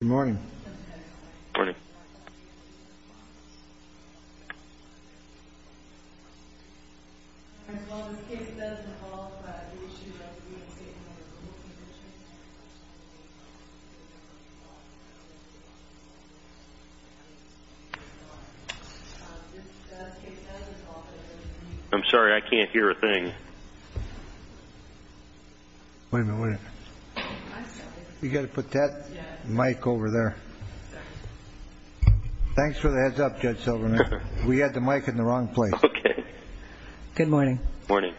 Good morning. I'm sorry, I can't hear a thing. Wait a minute. You've got to put that mic over there. Thanks for the heads up, Judge Silverman. We had the mic in the wrong place. Okay. Good morning. Morning.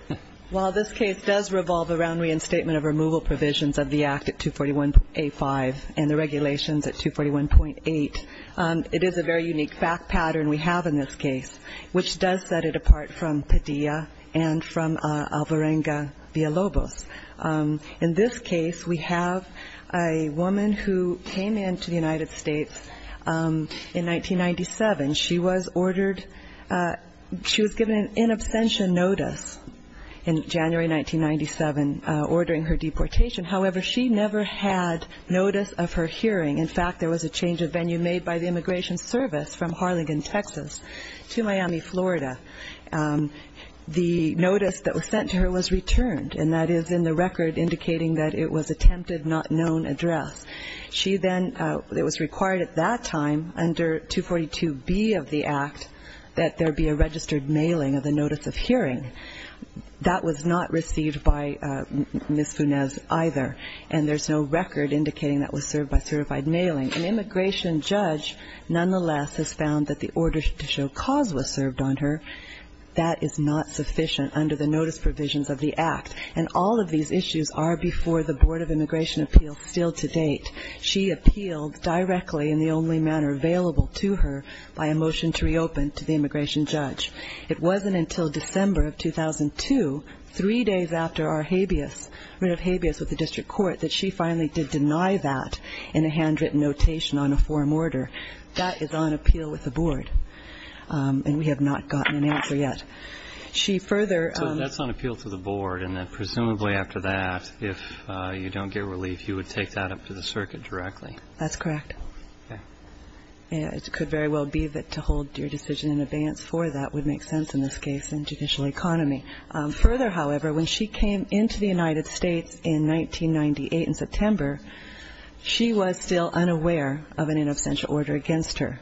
While this case does revolve around reinstatement of removal provisions of the Act at 241.85 and the regulations at 241.8, it is a very unique fact pattern we have in this case, which does set it apart from Padilla and from Alvarenga v. Lobos. In this case, we have a woman who came into the United States in 1997. She was given an in absentia notice in January 1997 ordering her deportation. However, she never had notice of her hearing. In fact, there was a change of venue made by the Immigration Service from Harlingen, Texas, to Miami, Florida. The notice that was sent to her was returned, and that is in the record indicating that it was attempted not known address. She then, it was required at that time, under 242B of the Act, that there be a registered mailing of the notice of hearing. That was not received by Ms. Funes either, and there's no record indicating that was served by certified mailing. An immigration judge, nonetheless, has found that the order to show cause was served on her. That is not sufficient under the notice provisions of the Act, and all of these issues are before the Board of Immigration Appeals still to date. She appealed directly in the only manner available to her by a motion to reopen to the immigration judge. It wasn't until December of 2002, three days after our habeas, rid of habeas with the district court, that she finally did deny that in a handwritten notation on a form order. That is on appeal with the Board, and we have not gotten an answer yet. She further- So that's on appeal to the Board, and then presumably after that, if you don't get relief, you would take that up to the circuit directly? That's correct. Okay. It could very well be that to hold your decision in advance for that would make sense in this case in judicial economy. Further, however, when she came into the United States in 1998 in September, she was still unaware of an in absentia order against her.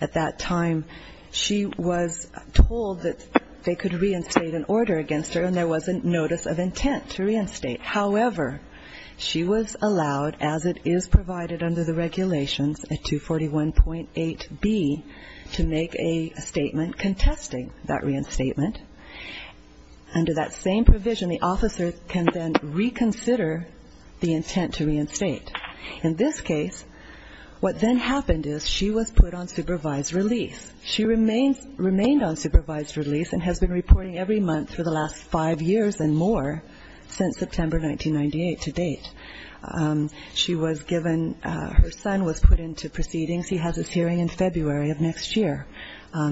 At that time, she was told that they could reinstate an order against her, and there was a notice of intent to reinstate. However, she was allowed, as it is provided under the regulations, a 241.8B to make a statement contesting that reinstatement. Under that same provision, the officer can then reconsider the intent to reinstate. In this case, what then happened is she was put on supervised release. She remained on supervised release and has been reporting every month for the last five years and more since September 1998 to date. She was given her son was put into proceedings. He has his hearing in February of next year.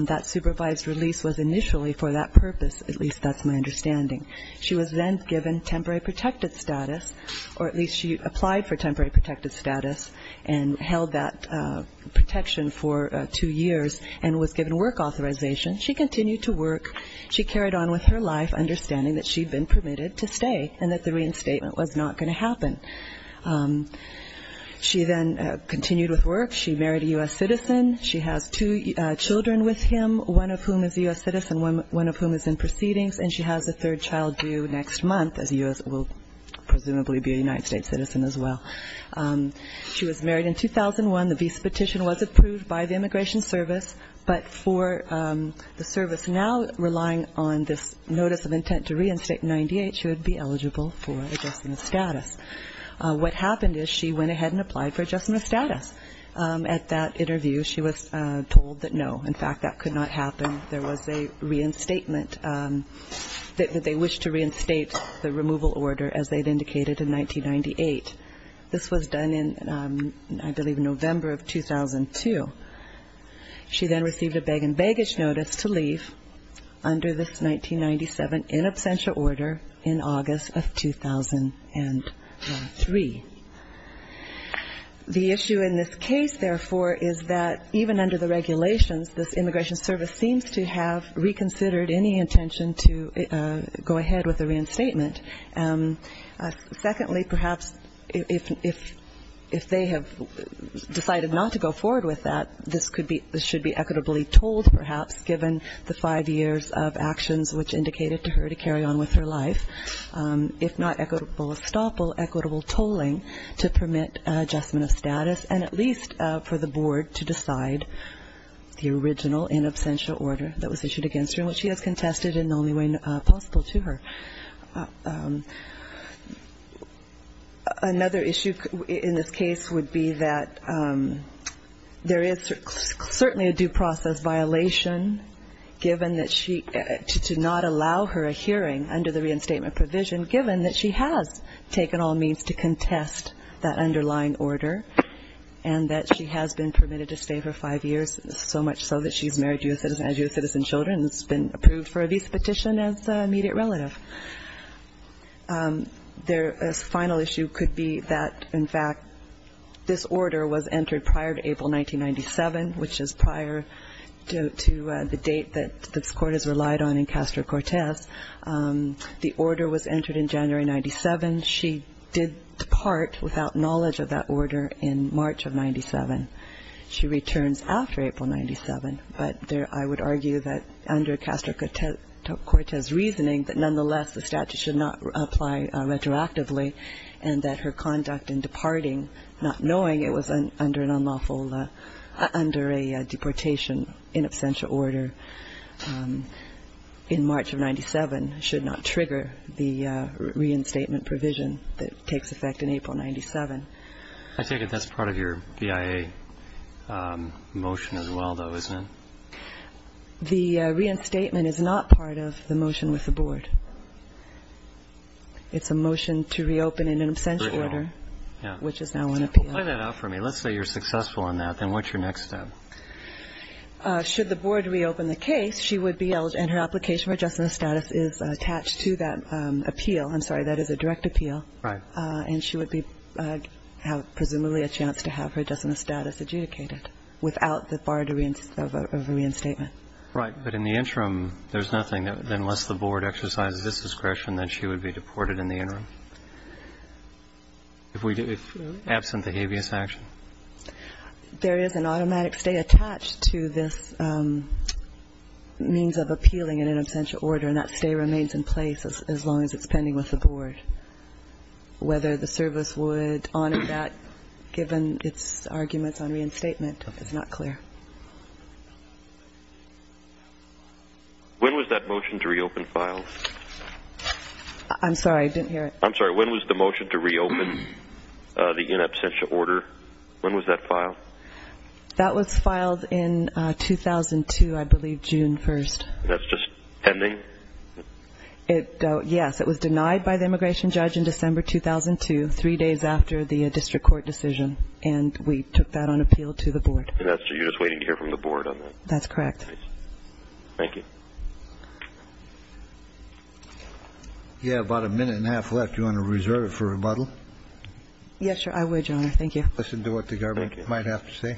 That supervised release was initially for that purpose, at least that's my understanding. She was then given temporary protected status, or at least she applied for temporary protected status and held that protection for two years and was given work authorization. She continued to work. She carried on with her life understanding that she had been permitted to stay and that the reinstatement was not going to happen. She then continued with work. She married a U.S. citizen. She has two children with him, one of whom is a U.S. citizen, one of whom is in proceedings, and she has a third child due next month, as a U.S. will presumably be a United States citizen as well. She was married in 2001. The visa petition was approved by the Immigration Service, but for the service now relying on this notice of intent to reinstate in 98, she would be eligible for adjustment of status. What happened is she went ahead and applied for adjustment of status. At that interview, she was told that no, in fact, that could not happen. There was a reinstatement that they wished to reinstate the removal order, as they had indicated, in 1998. This was done in, I believe, November of 2002. She then received a beg and baggage notice to leave under this 1997 in absentia order in August of 2003. The issue in this case, therefore, is that even under the regulations, this Immigration Service seems to have reconsidered any intention to go ahead with the reinstatement. Secondly, perhaps if they have decided not to go forward with that, this should be equitably told, perhaps, given the five years of actions which indicated to her to carry on with her life, if not equitable estoppel, equitable tolling to permit adjustment of status, and at least for the board to decide the original in absentia order that was issued against her, which she has contested in the only way possible to her. Another issue in this case would be that there is certainly a due process violation to not allow her a hearing under the reinstatement provision, given that she has taken all means to contest that underlying order and that she has been permitted to stay for five years, so much so that she's married as U.S. citizen children and has been approved for a visa petition as an immediate relative. The final issue could be that, in fact, this order was entered prior to April 1997, which is prior to the date that this Court has relied on in Castro-Cortez. The order was entered in January 1997. She did depart without knowledge of that order in March of 1997. She returns after April 1997, but I would argue that under Castro-Cortez's reasoning that nonetheless the statute should not apply retroactively and that her conduct in departing not knowing it was under an unlawful, under a deportation in absentia order in March of 1997 should not trigger the reinstatement provision that takes effect in April 1997. I take it that's part of your BIA motion as well, though, isn't it? The reinstatement is not part of the motion with the Board. It's a motion to reopen in an absentia order, which is now on appeal. Play that out for me. Let's say you're successful in that. Then what's your next step? Should the Board reopen the case, she would be eligible and her application for adjustment of status is attached to that appeal. I'm sorry, that is a direct appeal. Right. And she would have presumably a chance to have her adjustment of status adjudicated without the bar of a reinstatement. Right. But in the interim, there's nothing unless the Board exercises this discretion that she would be deported in the interim, if absent the habeas action. There is an automatic stay attached to this means of appealing in an absentia order, and that stay remains in place as long as it's pending with the Board. Whether the service would honor that given its arguments on reinstatement is not clear. When was that motion to reopen filed? I'm sorry, I didn't hear it. I'm sorry, when was the motion to reopen the in absentia order? When was that filed? That was filed in 2002, I believe, June 1st. That's just pending? Yes, it was denied by the immigration judge in December 2002, three days after the district court decision, and we took that on appeal to the Board. So you're just waiting to hear from the Board on that? That's correct. Thank you. You have about a minute and a half left. Do you want to reserve it for rebuttal? Yes, sir, I would, Your Honor. Thank you. Listen to what the government might have to say.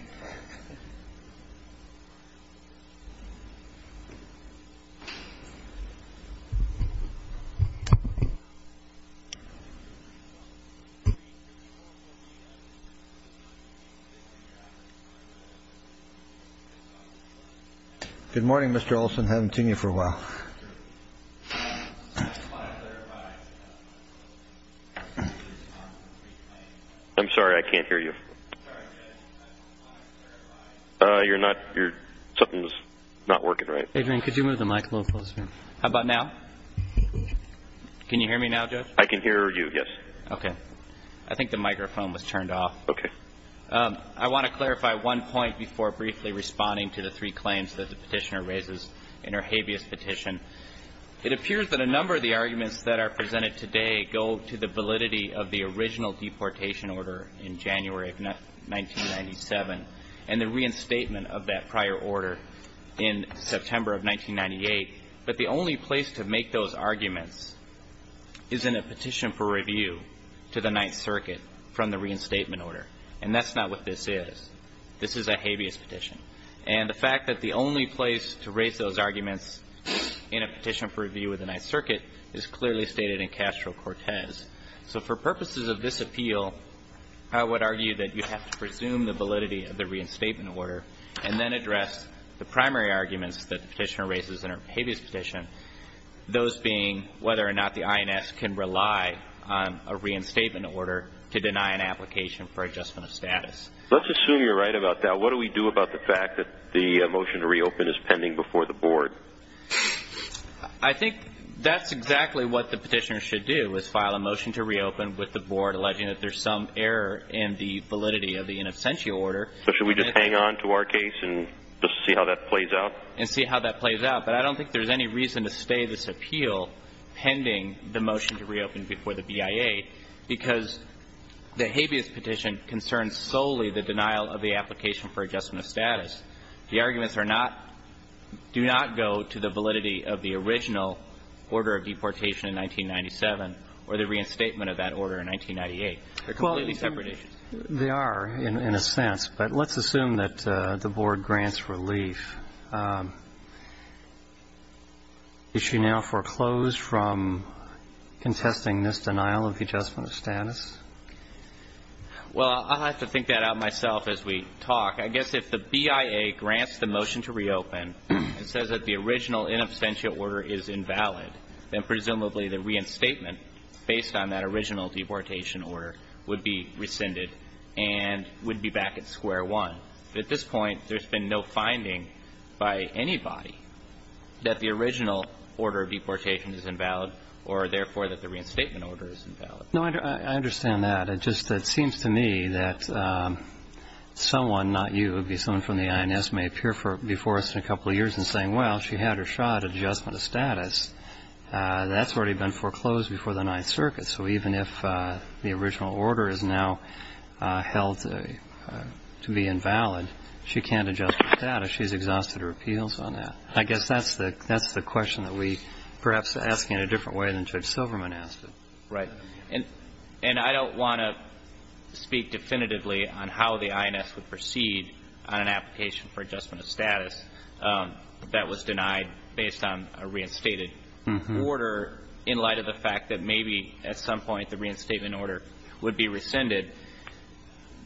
Good morning, Mr. Olson. Haven't seen you for a while. I'm sorry, I can't hear you. Something's not working right. Adrian, could you move the mic a little closer? How about now? Can you hear me now, Judge? I can hear you, yes. Okay. I think the microphone was turned off. Okay. I want to clarify one point before briefly responding to the three claims that the petitioner raises in her habeas petition. It appears that a number of the arguments that are presented today go to the validity of the original deportation order in January of 1997 and the reinstatement of that prior order in September of 1998. But the only place to make those arguments is in a petition for review to the Ninth Circuit from the reinstatement order. And that's not what this is. This is a habeas petition. And the fact that the only place to raise those arguments in a petition for review with the Ninth Circuit is clearly stated in Castro-Cortez. So for purposes of this appeal, I would argue that you have to presume the validity of the reinstatement order and then address the primary arguments that the petitioner raises in her habeas petition, those being whether or not the INS can rely on a reinstatement order to deny an application for adjustment of status. Let's assume you're right about that. But what do we do about the fact that the motion to reopen is pending before the board? I think that's exactly what the petitioner should do, is file a motion to reopen with the board alleging that there's some error in the validity of the in absentia order. So should we just hang on to our case and just see how that plays out? And see how that plays out. But I don't think there's any reason to stay this appeal pending the motion to reopen before the BIA because the habeas petition concerns solely the denial of the application for adjustment of status. The arguments are not do not go to the validity of the original order of deportation in 1997 or the reinstatement of that order in 1998. They're completely separate issues. They are, in a sense. But let's assume that the board grants relief. Is she now foreclosed from contesting this denial of the adjustment of status? Well, I'll have to think that out myself as we talk. I guess if the BIA grants the motion to reopen and says that the original in absentia order is invalid, then presumably the reinstatement based on that original deportation order would be rescinded and would be back at square one. At this point, there's been no finding by anybody that the original order of deportation is invalid or, therefore, that the reinstatement order is invalid. No, I understand that. It just seems to me that someone, not you, it would be someone from the INS, may appear before us in a couple of years and saying, well, she had her shot adjustment of status. That's already been foreclosed before the Ninth Circuit. So even if the original order is now held to be invalid, she can't adjust the status. She's exhausted her appeals on that. I guess that's the question that we perhaps ask in a different way than Judge Silverman asked it. Right. And I don't want to speak definitively on how the INS would proceed on an application for adjustment of status that was denied based on a reinstated order in light of the fact that maybe at some point the reinstatement order would be rescinded.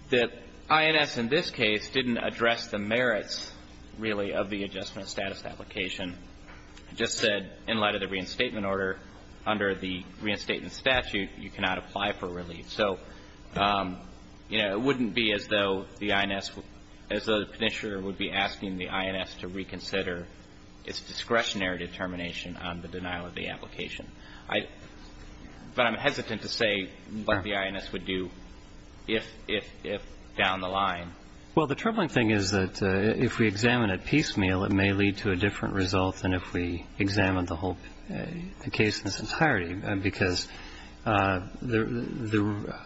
The INS in this case didn't address the merits, really, of the adjustment of status application. It just said in light of the reinstatement order, under the reinstatement statute, you cannot apply for relief. So, you know, it wouldn't be as though the INS would be asking the INS to reconsider its discretionary determination on the denial of the application. But I'm hesitant to say what the INS would do if down the line. Well, the troubling thing is that if we examine it piecemeal, it may lead to a different result than if we examined the whole case in its entirety, because the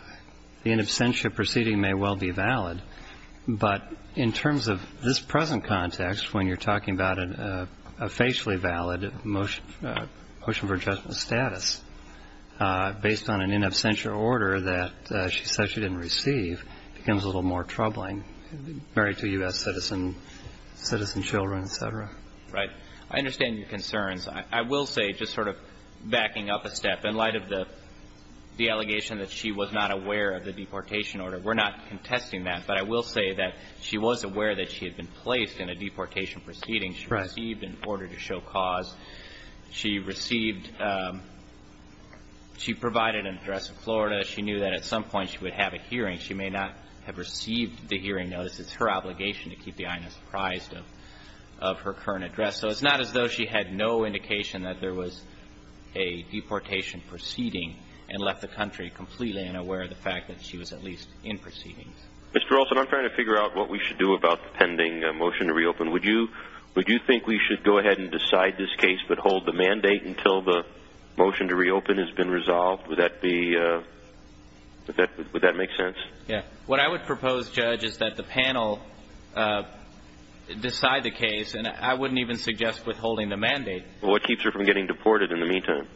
in absentia proceeding may well be valid. But in terms of this present context, when you're talking about a facially valid motion for adjustment of status, based on an in absentia order that she said she didn't receive becomes a little more troubling. Married to U.S. citizen, citizen children, et cetera. Right. I understand your concerns. I will say, just sort of backing up a step, in light of the allegation that she was not aware of the deportation order, we're not contesting that, but I will say that she was aware that she had been placed in a deportation proceeding. Right. She received an order to show cause. She received – she provided an address in Florida. She knew that at some point she would have a hearing. She may not have received the hearing notice. It's her obligation to keep the INS apprised of her current address. So it's not as though she had no indication that there was a deportation proceeding and left the country completely unaware of the fact that she was at least in proceedings. Mr. Olson, I'm trying to figure out what we should do about the pending motion to reopen. Would you think we should go ahead and decide this case but hold the mandate until the motion to reopen has been resolved? Would that be – would that make sense? Yeah. What I would propose, Judge, is that the panel decide the case, and I wouldn't even suggest withholding the mandate. What keeps her from getting deported in the meantime?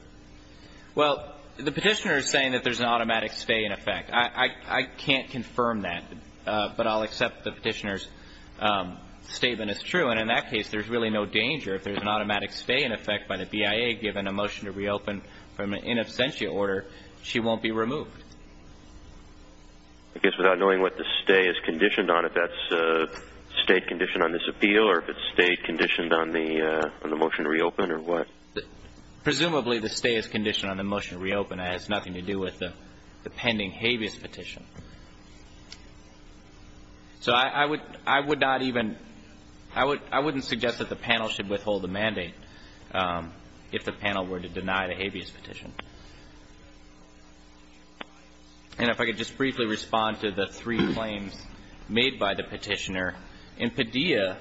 Well, the petitioner is saying that there's an automatic stay in effect. I can't confirm that, but I'll accept the petitioner's statement as true. And in that case, there's really no danger. If there's an automatic stay in effect by the BIA given a motion to reopen from an in absentia order, she won't be removed. I guess without knowing what the stay is conditioned on, if that's a stayed condition on this appeal or if it's stayed conditioned on the motion to reopen or what? Presumably the stay is conditioned on the motion to reopen. It has nothing to do with the pending habeas petition. So I would not even – I wouldn't suggest that the panel should withhold the mandate if the panel were to deny the habeas petition. And if I could just briefly respond to the three claims made by the petitioner. In Padilla,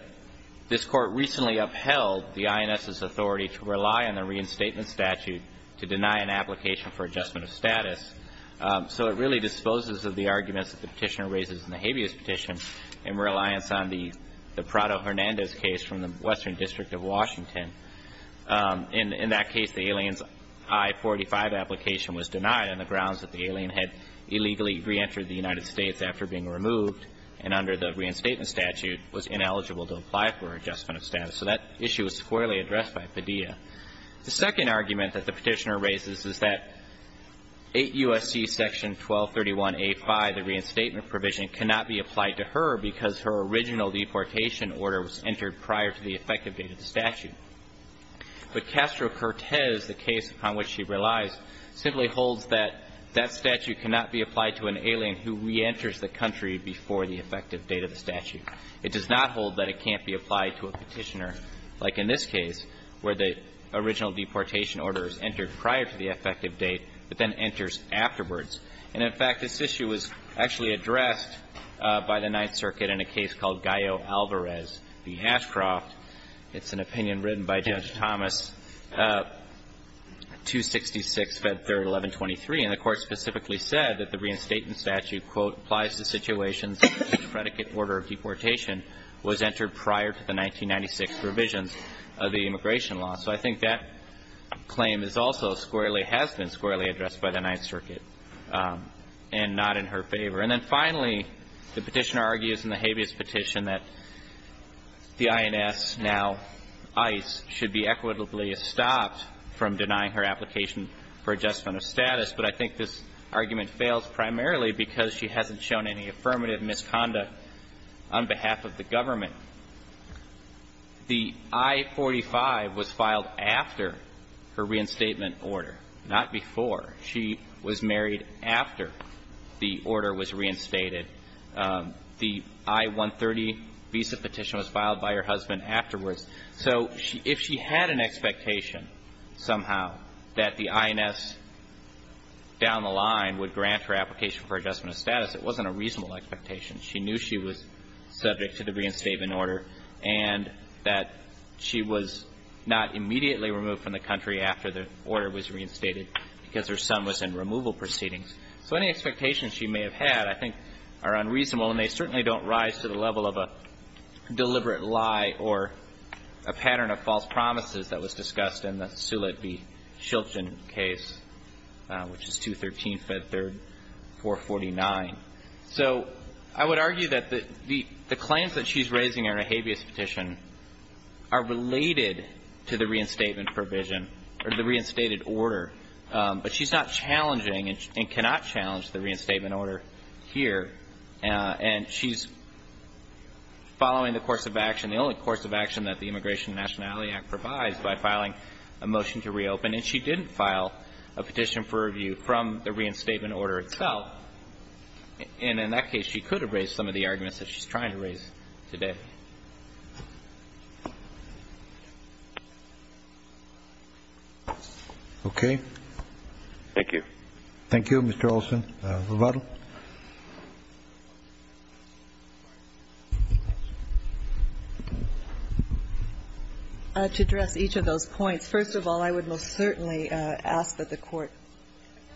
this Court recently upheld the INS's authority to rely on the reinstatement statute to deny an application for adjustment of status. So it really disposes of the arguments that the petitioner raises in the habeas petition in reliance on the Prado-Hernandez case from the Western District of Washington. In that case, the alien's I-45 application was denied on the grounds that the alien had illegally reentered the United States after being removed and under the reinstatement statute was ineligible to apply for adjustment of status. So that issue was squarely addressed by Padilla. The second argument that the petitioner raises is that 8 U.S.C. section 1231A5, the reinstatement provision, cannot be applied to her because her original deportation order was entered prior to the effective date of the statute. But Castro-Cortez, the case upon which she relies, simply holds that that statute cannot be applied to an alien who reenters the country before the effective date of the statute. It does not hold that it can't be applied to a petitioner, like in this case, where the original deportation order is entered prior to the effective date but then enters afterwards. And, in fact, this issue was actually addressed by the Ninth Circuit in a case called Gallo-Alvarez v. Hashcroft. It's an opinion written by Judge Thomas, 266, Fed 3rd, 1123. And the Court specifically said that the reinstatement statute, quote, applies to situations in which predicate order of deportation was entered prior to the 1996 revisions of the immigration law. So I think that claim is also squarely, has been squarely addressed by the Ninth Circuit and not in her favor. And then finally, the petitioner argues in the habeas petition that the INS, now ICE, should be equitably stopped from denying her application for adjustment of status. But I think this argument fails primarily because she hasn't shown any affirmative misconduct on behalf of the government. The I-45 was filed after her reinstatement order, not before. She was married after the order was reinstated. The I-130 visa petition was filed by her husband afterwards. So if she had an expectation somehow that the INS down the line would grant her application for adjustment of status, it wasn't a reasonable expectation. She knew she was subject to the reinstatement order and that she was not immediately removed from the country after the order was reinstated because her son was in removal proceedings. So any expectations she may have had I think are unreasonable, and they certainly don't rise to the level of a deliberate lie or a pattern of false promises that was discussed in the Sulit v. Shiltson case, which is 213 Fed 3rd, 449. So I would argue that the claims that she's raising in her habeas petition are related to the reinstatement provision or the reinstated order, but she's not challenging and cannot challenge the reinstatement order here. And she's following the course of action, the only course of action that the Immigration and Nationality Act provides by filing a motion to reopen. And she didn't file a petition for review from the reinstatement order itself. And in that case, she could have raised some of the arguments that she's trying to raise today. Roberts. Thank you. Thank you, Mr. Olson. Rebuttal. To address each of those points, first of all, I would most certainly ask that the Court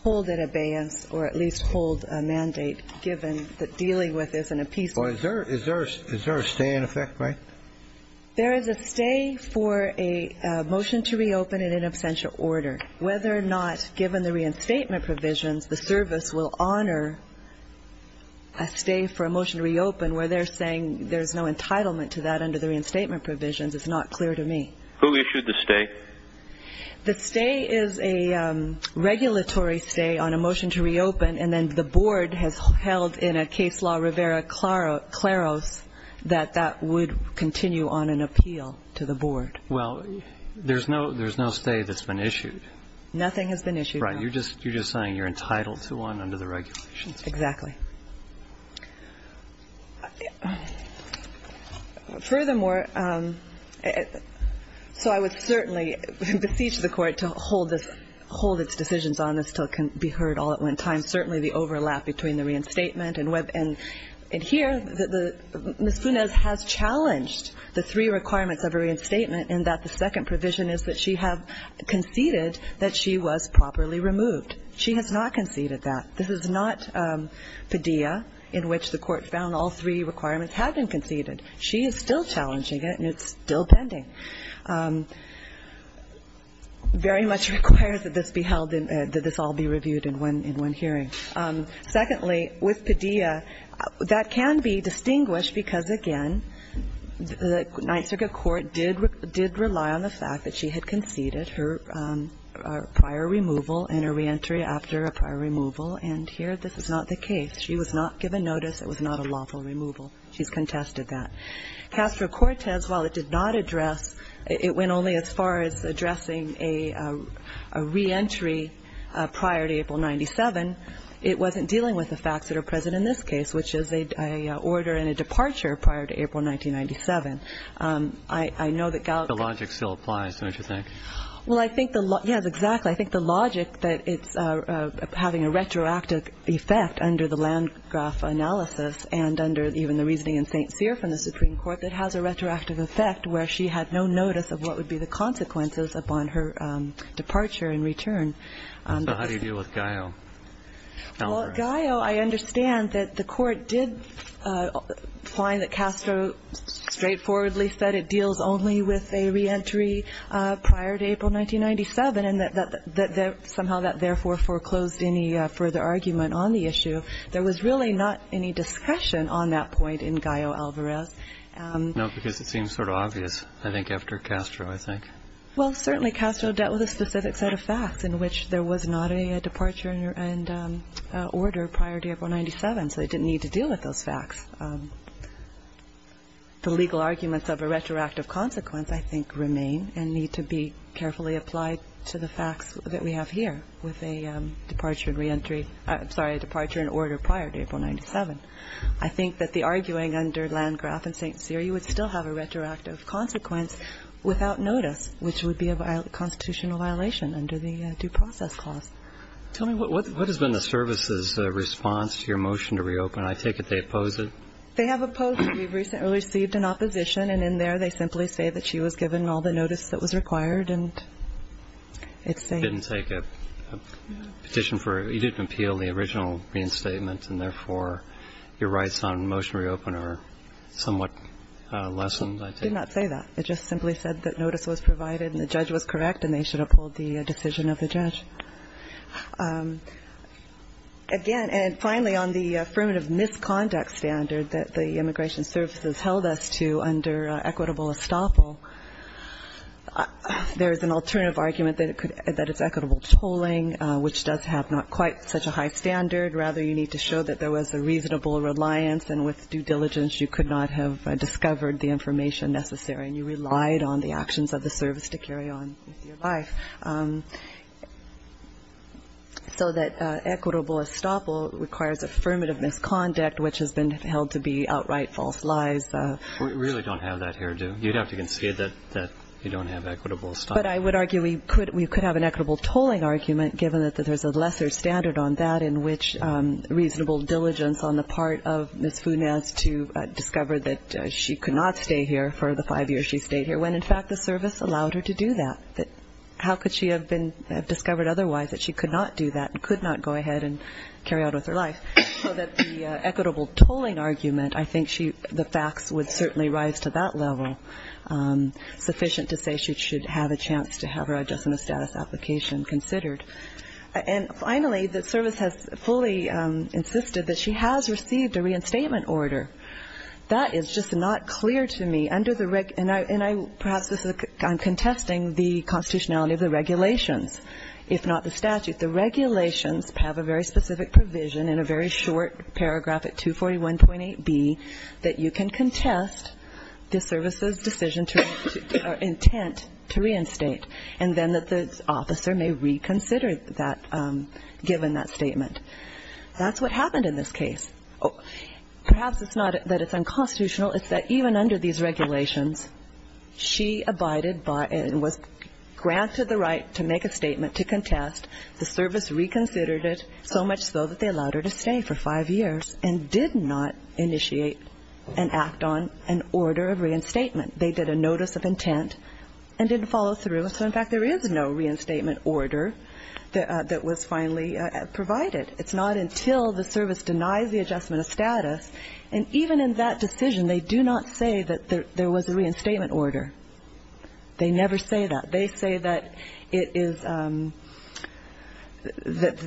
hold an abeyance or at least hold a mandate given that dealing with this in a peaceful way. Is there a stay in effect, right? There is a stay for a motion to reopen in an absential order. Whether or not, given the reinstatement provisions, the service will honor a stay for a motion to reopen where they're saying there's no entitlement to that under the reinstatement provisions is not clear to me. Who issued the stay? The stay is a regulatory stay on a motion to reopen. And then the Board has held in a case law, Rivera-Claros, that that would continue on an appeal to the Board. Well, there's no stay that's been issued. Nothing has been issued. Right. You're just saying you're entitled to one under the regulations. Exactly. Furthermore, so I would certainly beseech the Court to hold its decisions on this until it can be heard all at one time. Certainly the overlap between the reinstatement and here, Ms. Funes has challenged the three requirements of a reinstatement in that the second provision is that she has conceded that she was properly removed. She has not conceded that. This is not Padilla, in which the Court found all three requirements had been conceded. She is still challenging it, and it's still pending. Very much requires that this be held and that this all be reviewed in one hearing. Secondly, with Padilla, that can be distinguished because, again, the Ninth Circuit Court did rely on the fact that she had conceded her prior removal and her reentry after a prior removal, and here this is not the case. She was not given notice. It was not a lawful removal. She's contested that. Castro-Cortez, while it did not address, it went only as far as addressing a reentry prior to April 97, it wasn't dealing with the facts that are present in this case, which is a order and a departure prior to April 1997. I know that Gallagher — The logic still applies, don't you think? Well, I think the — yes, exactly. I think the logic that it's having a retroactive effect under the Landgraf analysis and under even the reasoning in St. Cyr from the Supreme Court that has a retroactive effect where she had no notice of what would be the consequences upon her departure and return. So how do you deal with Gallagher? Well, Gallagher, I understand that the Court did find that Castro straightforwardly said it deals only with a reentry prior to April 1997, and that somehow that therefore foreclosed any further argument on the issue. There was really not any discussion on that point in Gallagher-Alvarez. No, because it seems sort of obvious, I think, after Castro, I think. Well, certainly Castro dealt with a specific set of facts in which there was not a departure and order prior to April 1997, so they didn't need to deal with those facts. The legal arguments of a retroactive consequence, I think, remain and need to be carefully applied to the facts that we have here with a departure and reentry — I'm sorry, a departure and order prior to April 1997. I think that the arguing under Landgraf and St. Cyr, you would still have a retroactive consequence without notice, which would be a constitutional violation under the due process clause. Tell me, what has been the service's response to your motion to reopen? I take it they oppose it. They have opposed it. We recently received an opposition, and in there they simply say that she was given all the notice that was required, and it's a — Didn't take a petition for — you didn't appeal the original reinstatement, and therefore your rights on motion to reopen are somewhat lessened, I take it? I did not say that. It just simply said that notice was provided and the judge was correct, and they should have pulled the decision of the judge. Again, and finally, on the affirmative misconduct standard that the Immigration Services held us to under equitable estoppel, there is an alternative argument that it's equitable tolling, which does have not quite such a high standard. Rather, you need to show that there was a reasonable reliance, and with due diligence you could not have discovered the information necessary, and you relied on the actions of the service to carry on with your life. So that equitable estoppel requires affirmative misconduct, which has been held to be outright false lies. We really don't have that here, do we? You'd have to concede that you don't have equitable estoppel. But I would argue we could have an equitable tolling argument, given that there's a lesser standard on that in which reasonable diligence on the part of Ms. Funes to discover that she could not stay here for the five years she stayed here, when in fact the service allowed her to do that. How could she have been discovered otherwise that she could not do that and could not go ahead and carry on with her life? So that the equitable tolling argument, I think the facts would certainly rise to that level, sufficient to say she should have a chance to have her adjustment status application considered. And finally, the service has fully insisted that she has received a reinstatement order. That is just not clear to me. Under the reg – and I – perhaps this is – I'm contesting the constitutionality of the regulations, if not the statute. The regulations have a very specific provision in a very short paragraph at 241.8b that you can contest the service's decision to – or intent to reinstate, and then that the officer may reconsider that – given that statement. That's what happened in this case. Perhaps it's not that it's unconstitutional. It's that even under these regulations, she abided by and was granted the right to make a statement to contest. The service reconsidered it, so much so that they allowed her to stay for five years and did not initiate an act on an order of reinstatement. They did a notice of intent and didn't follow through. So, in fact, there is no reinstatement order that was finally provided. It's not until the service denies the adjustment of status – and even in that decision, they do not say that there was a reinstatement order. They never say that. They say that it is – that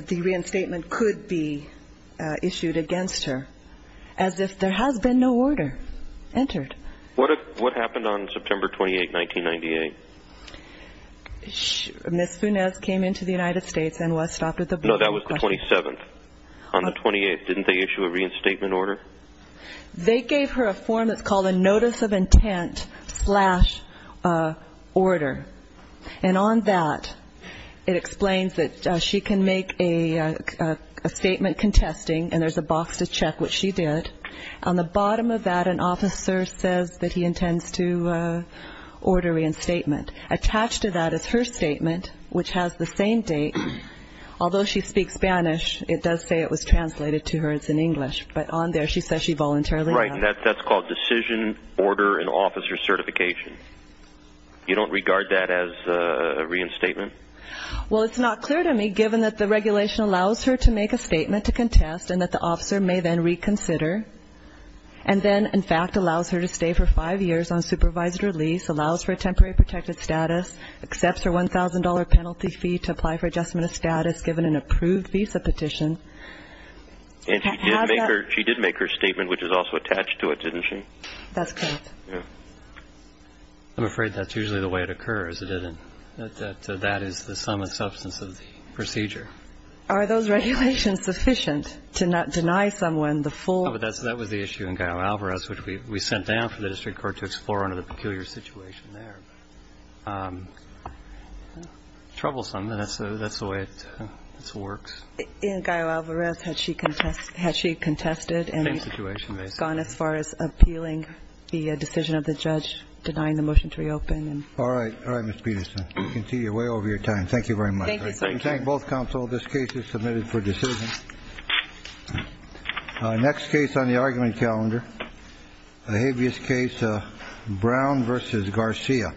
the reinstatement could be issued against her, as if there has been no order entered. What happened on September 28, 1998? Ms. Funes came into the United States and was stopped at the – No, that was the 27th. On the 28th, didn't they issue a reinstatement order? They gave her a form that's called a notice of intent slash order. And on that, it explains that she can make a statement contesting, and there's a box to check what she did. On the bottom of that, an officer says that he intends to order reinstatement. Attached to that is her statement, which has the same date. Although she speaks Spanish, it does say it was translated to her. It's in English. But on there, she says she voluntarily – Right, and that's called decision, order, and officer certification. You don't regard that as a reinstatement? Well, it's not clear to me, given that the regulation allows her to make a And then, in fact, allows her to stay for five years on supervised release, allows for a temporary protected status, accepts her $1,000 penalty fee to apply for adjustment of status given an approved visa petition. And she did make her statement, which is also attached to it, didn't she? That's correct. I'm afraid that's usually the way it occurs, isn't it? That that is the sum and substance of the procedure. Are those regulations sufficient to deny someone the full – No, but that was the issue in Gallo-Alvarez, which we sent down for the district court to explore under the peculiar situation there. Troublesome, but that's the way it works. In Gallo-Alvarez, had she contested and gone as far as appealing the decision of the judge, denying the motion to reopen? All right. All right, Ms. Peterson. We can see you're way over your time. Thank you very much. Thank you, sir. Thank both counsel. This case is submitted for decision. Next case on the argument calendar. A habeas case. Brown versus Garcia.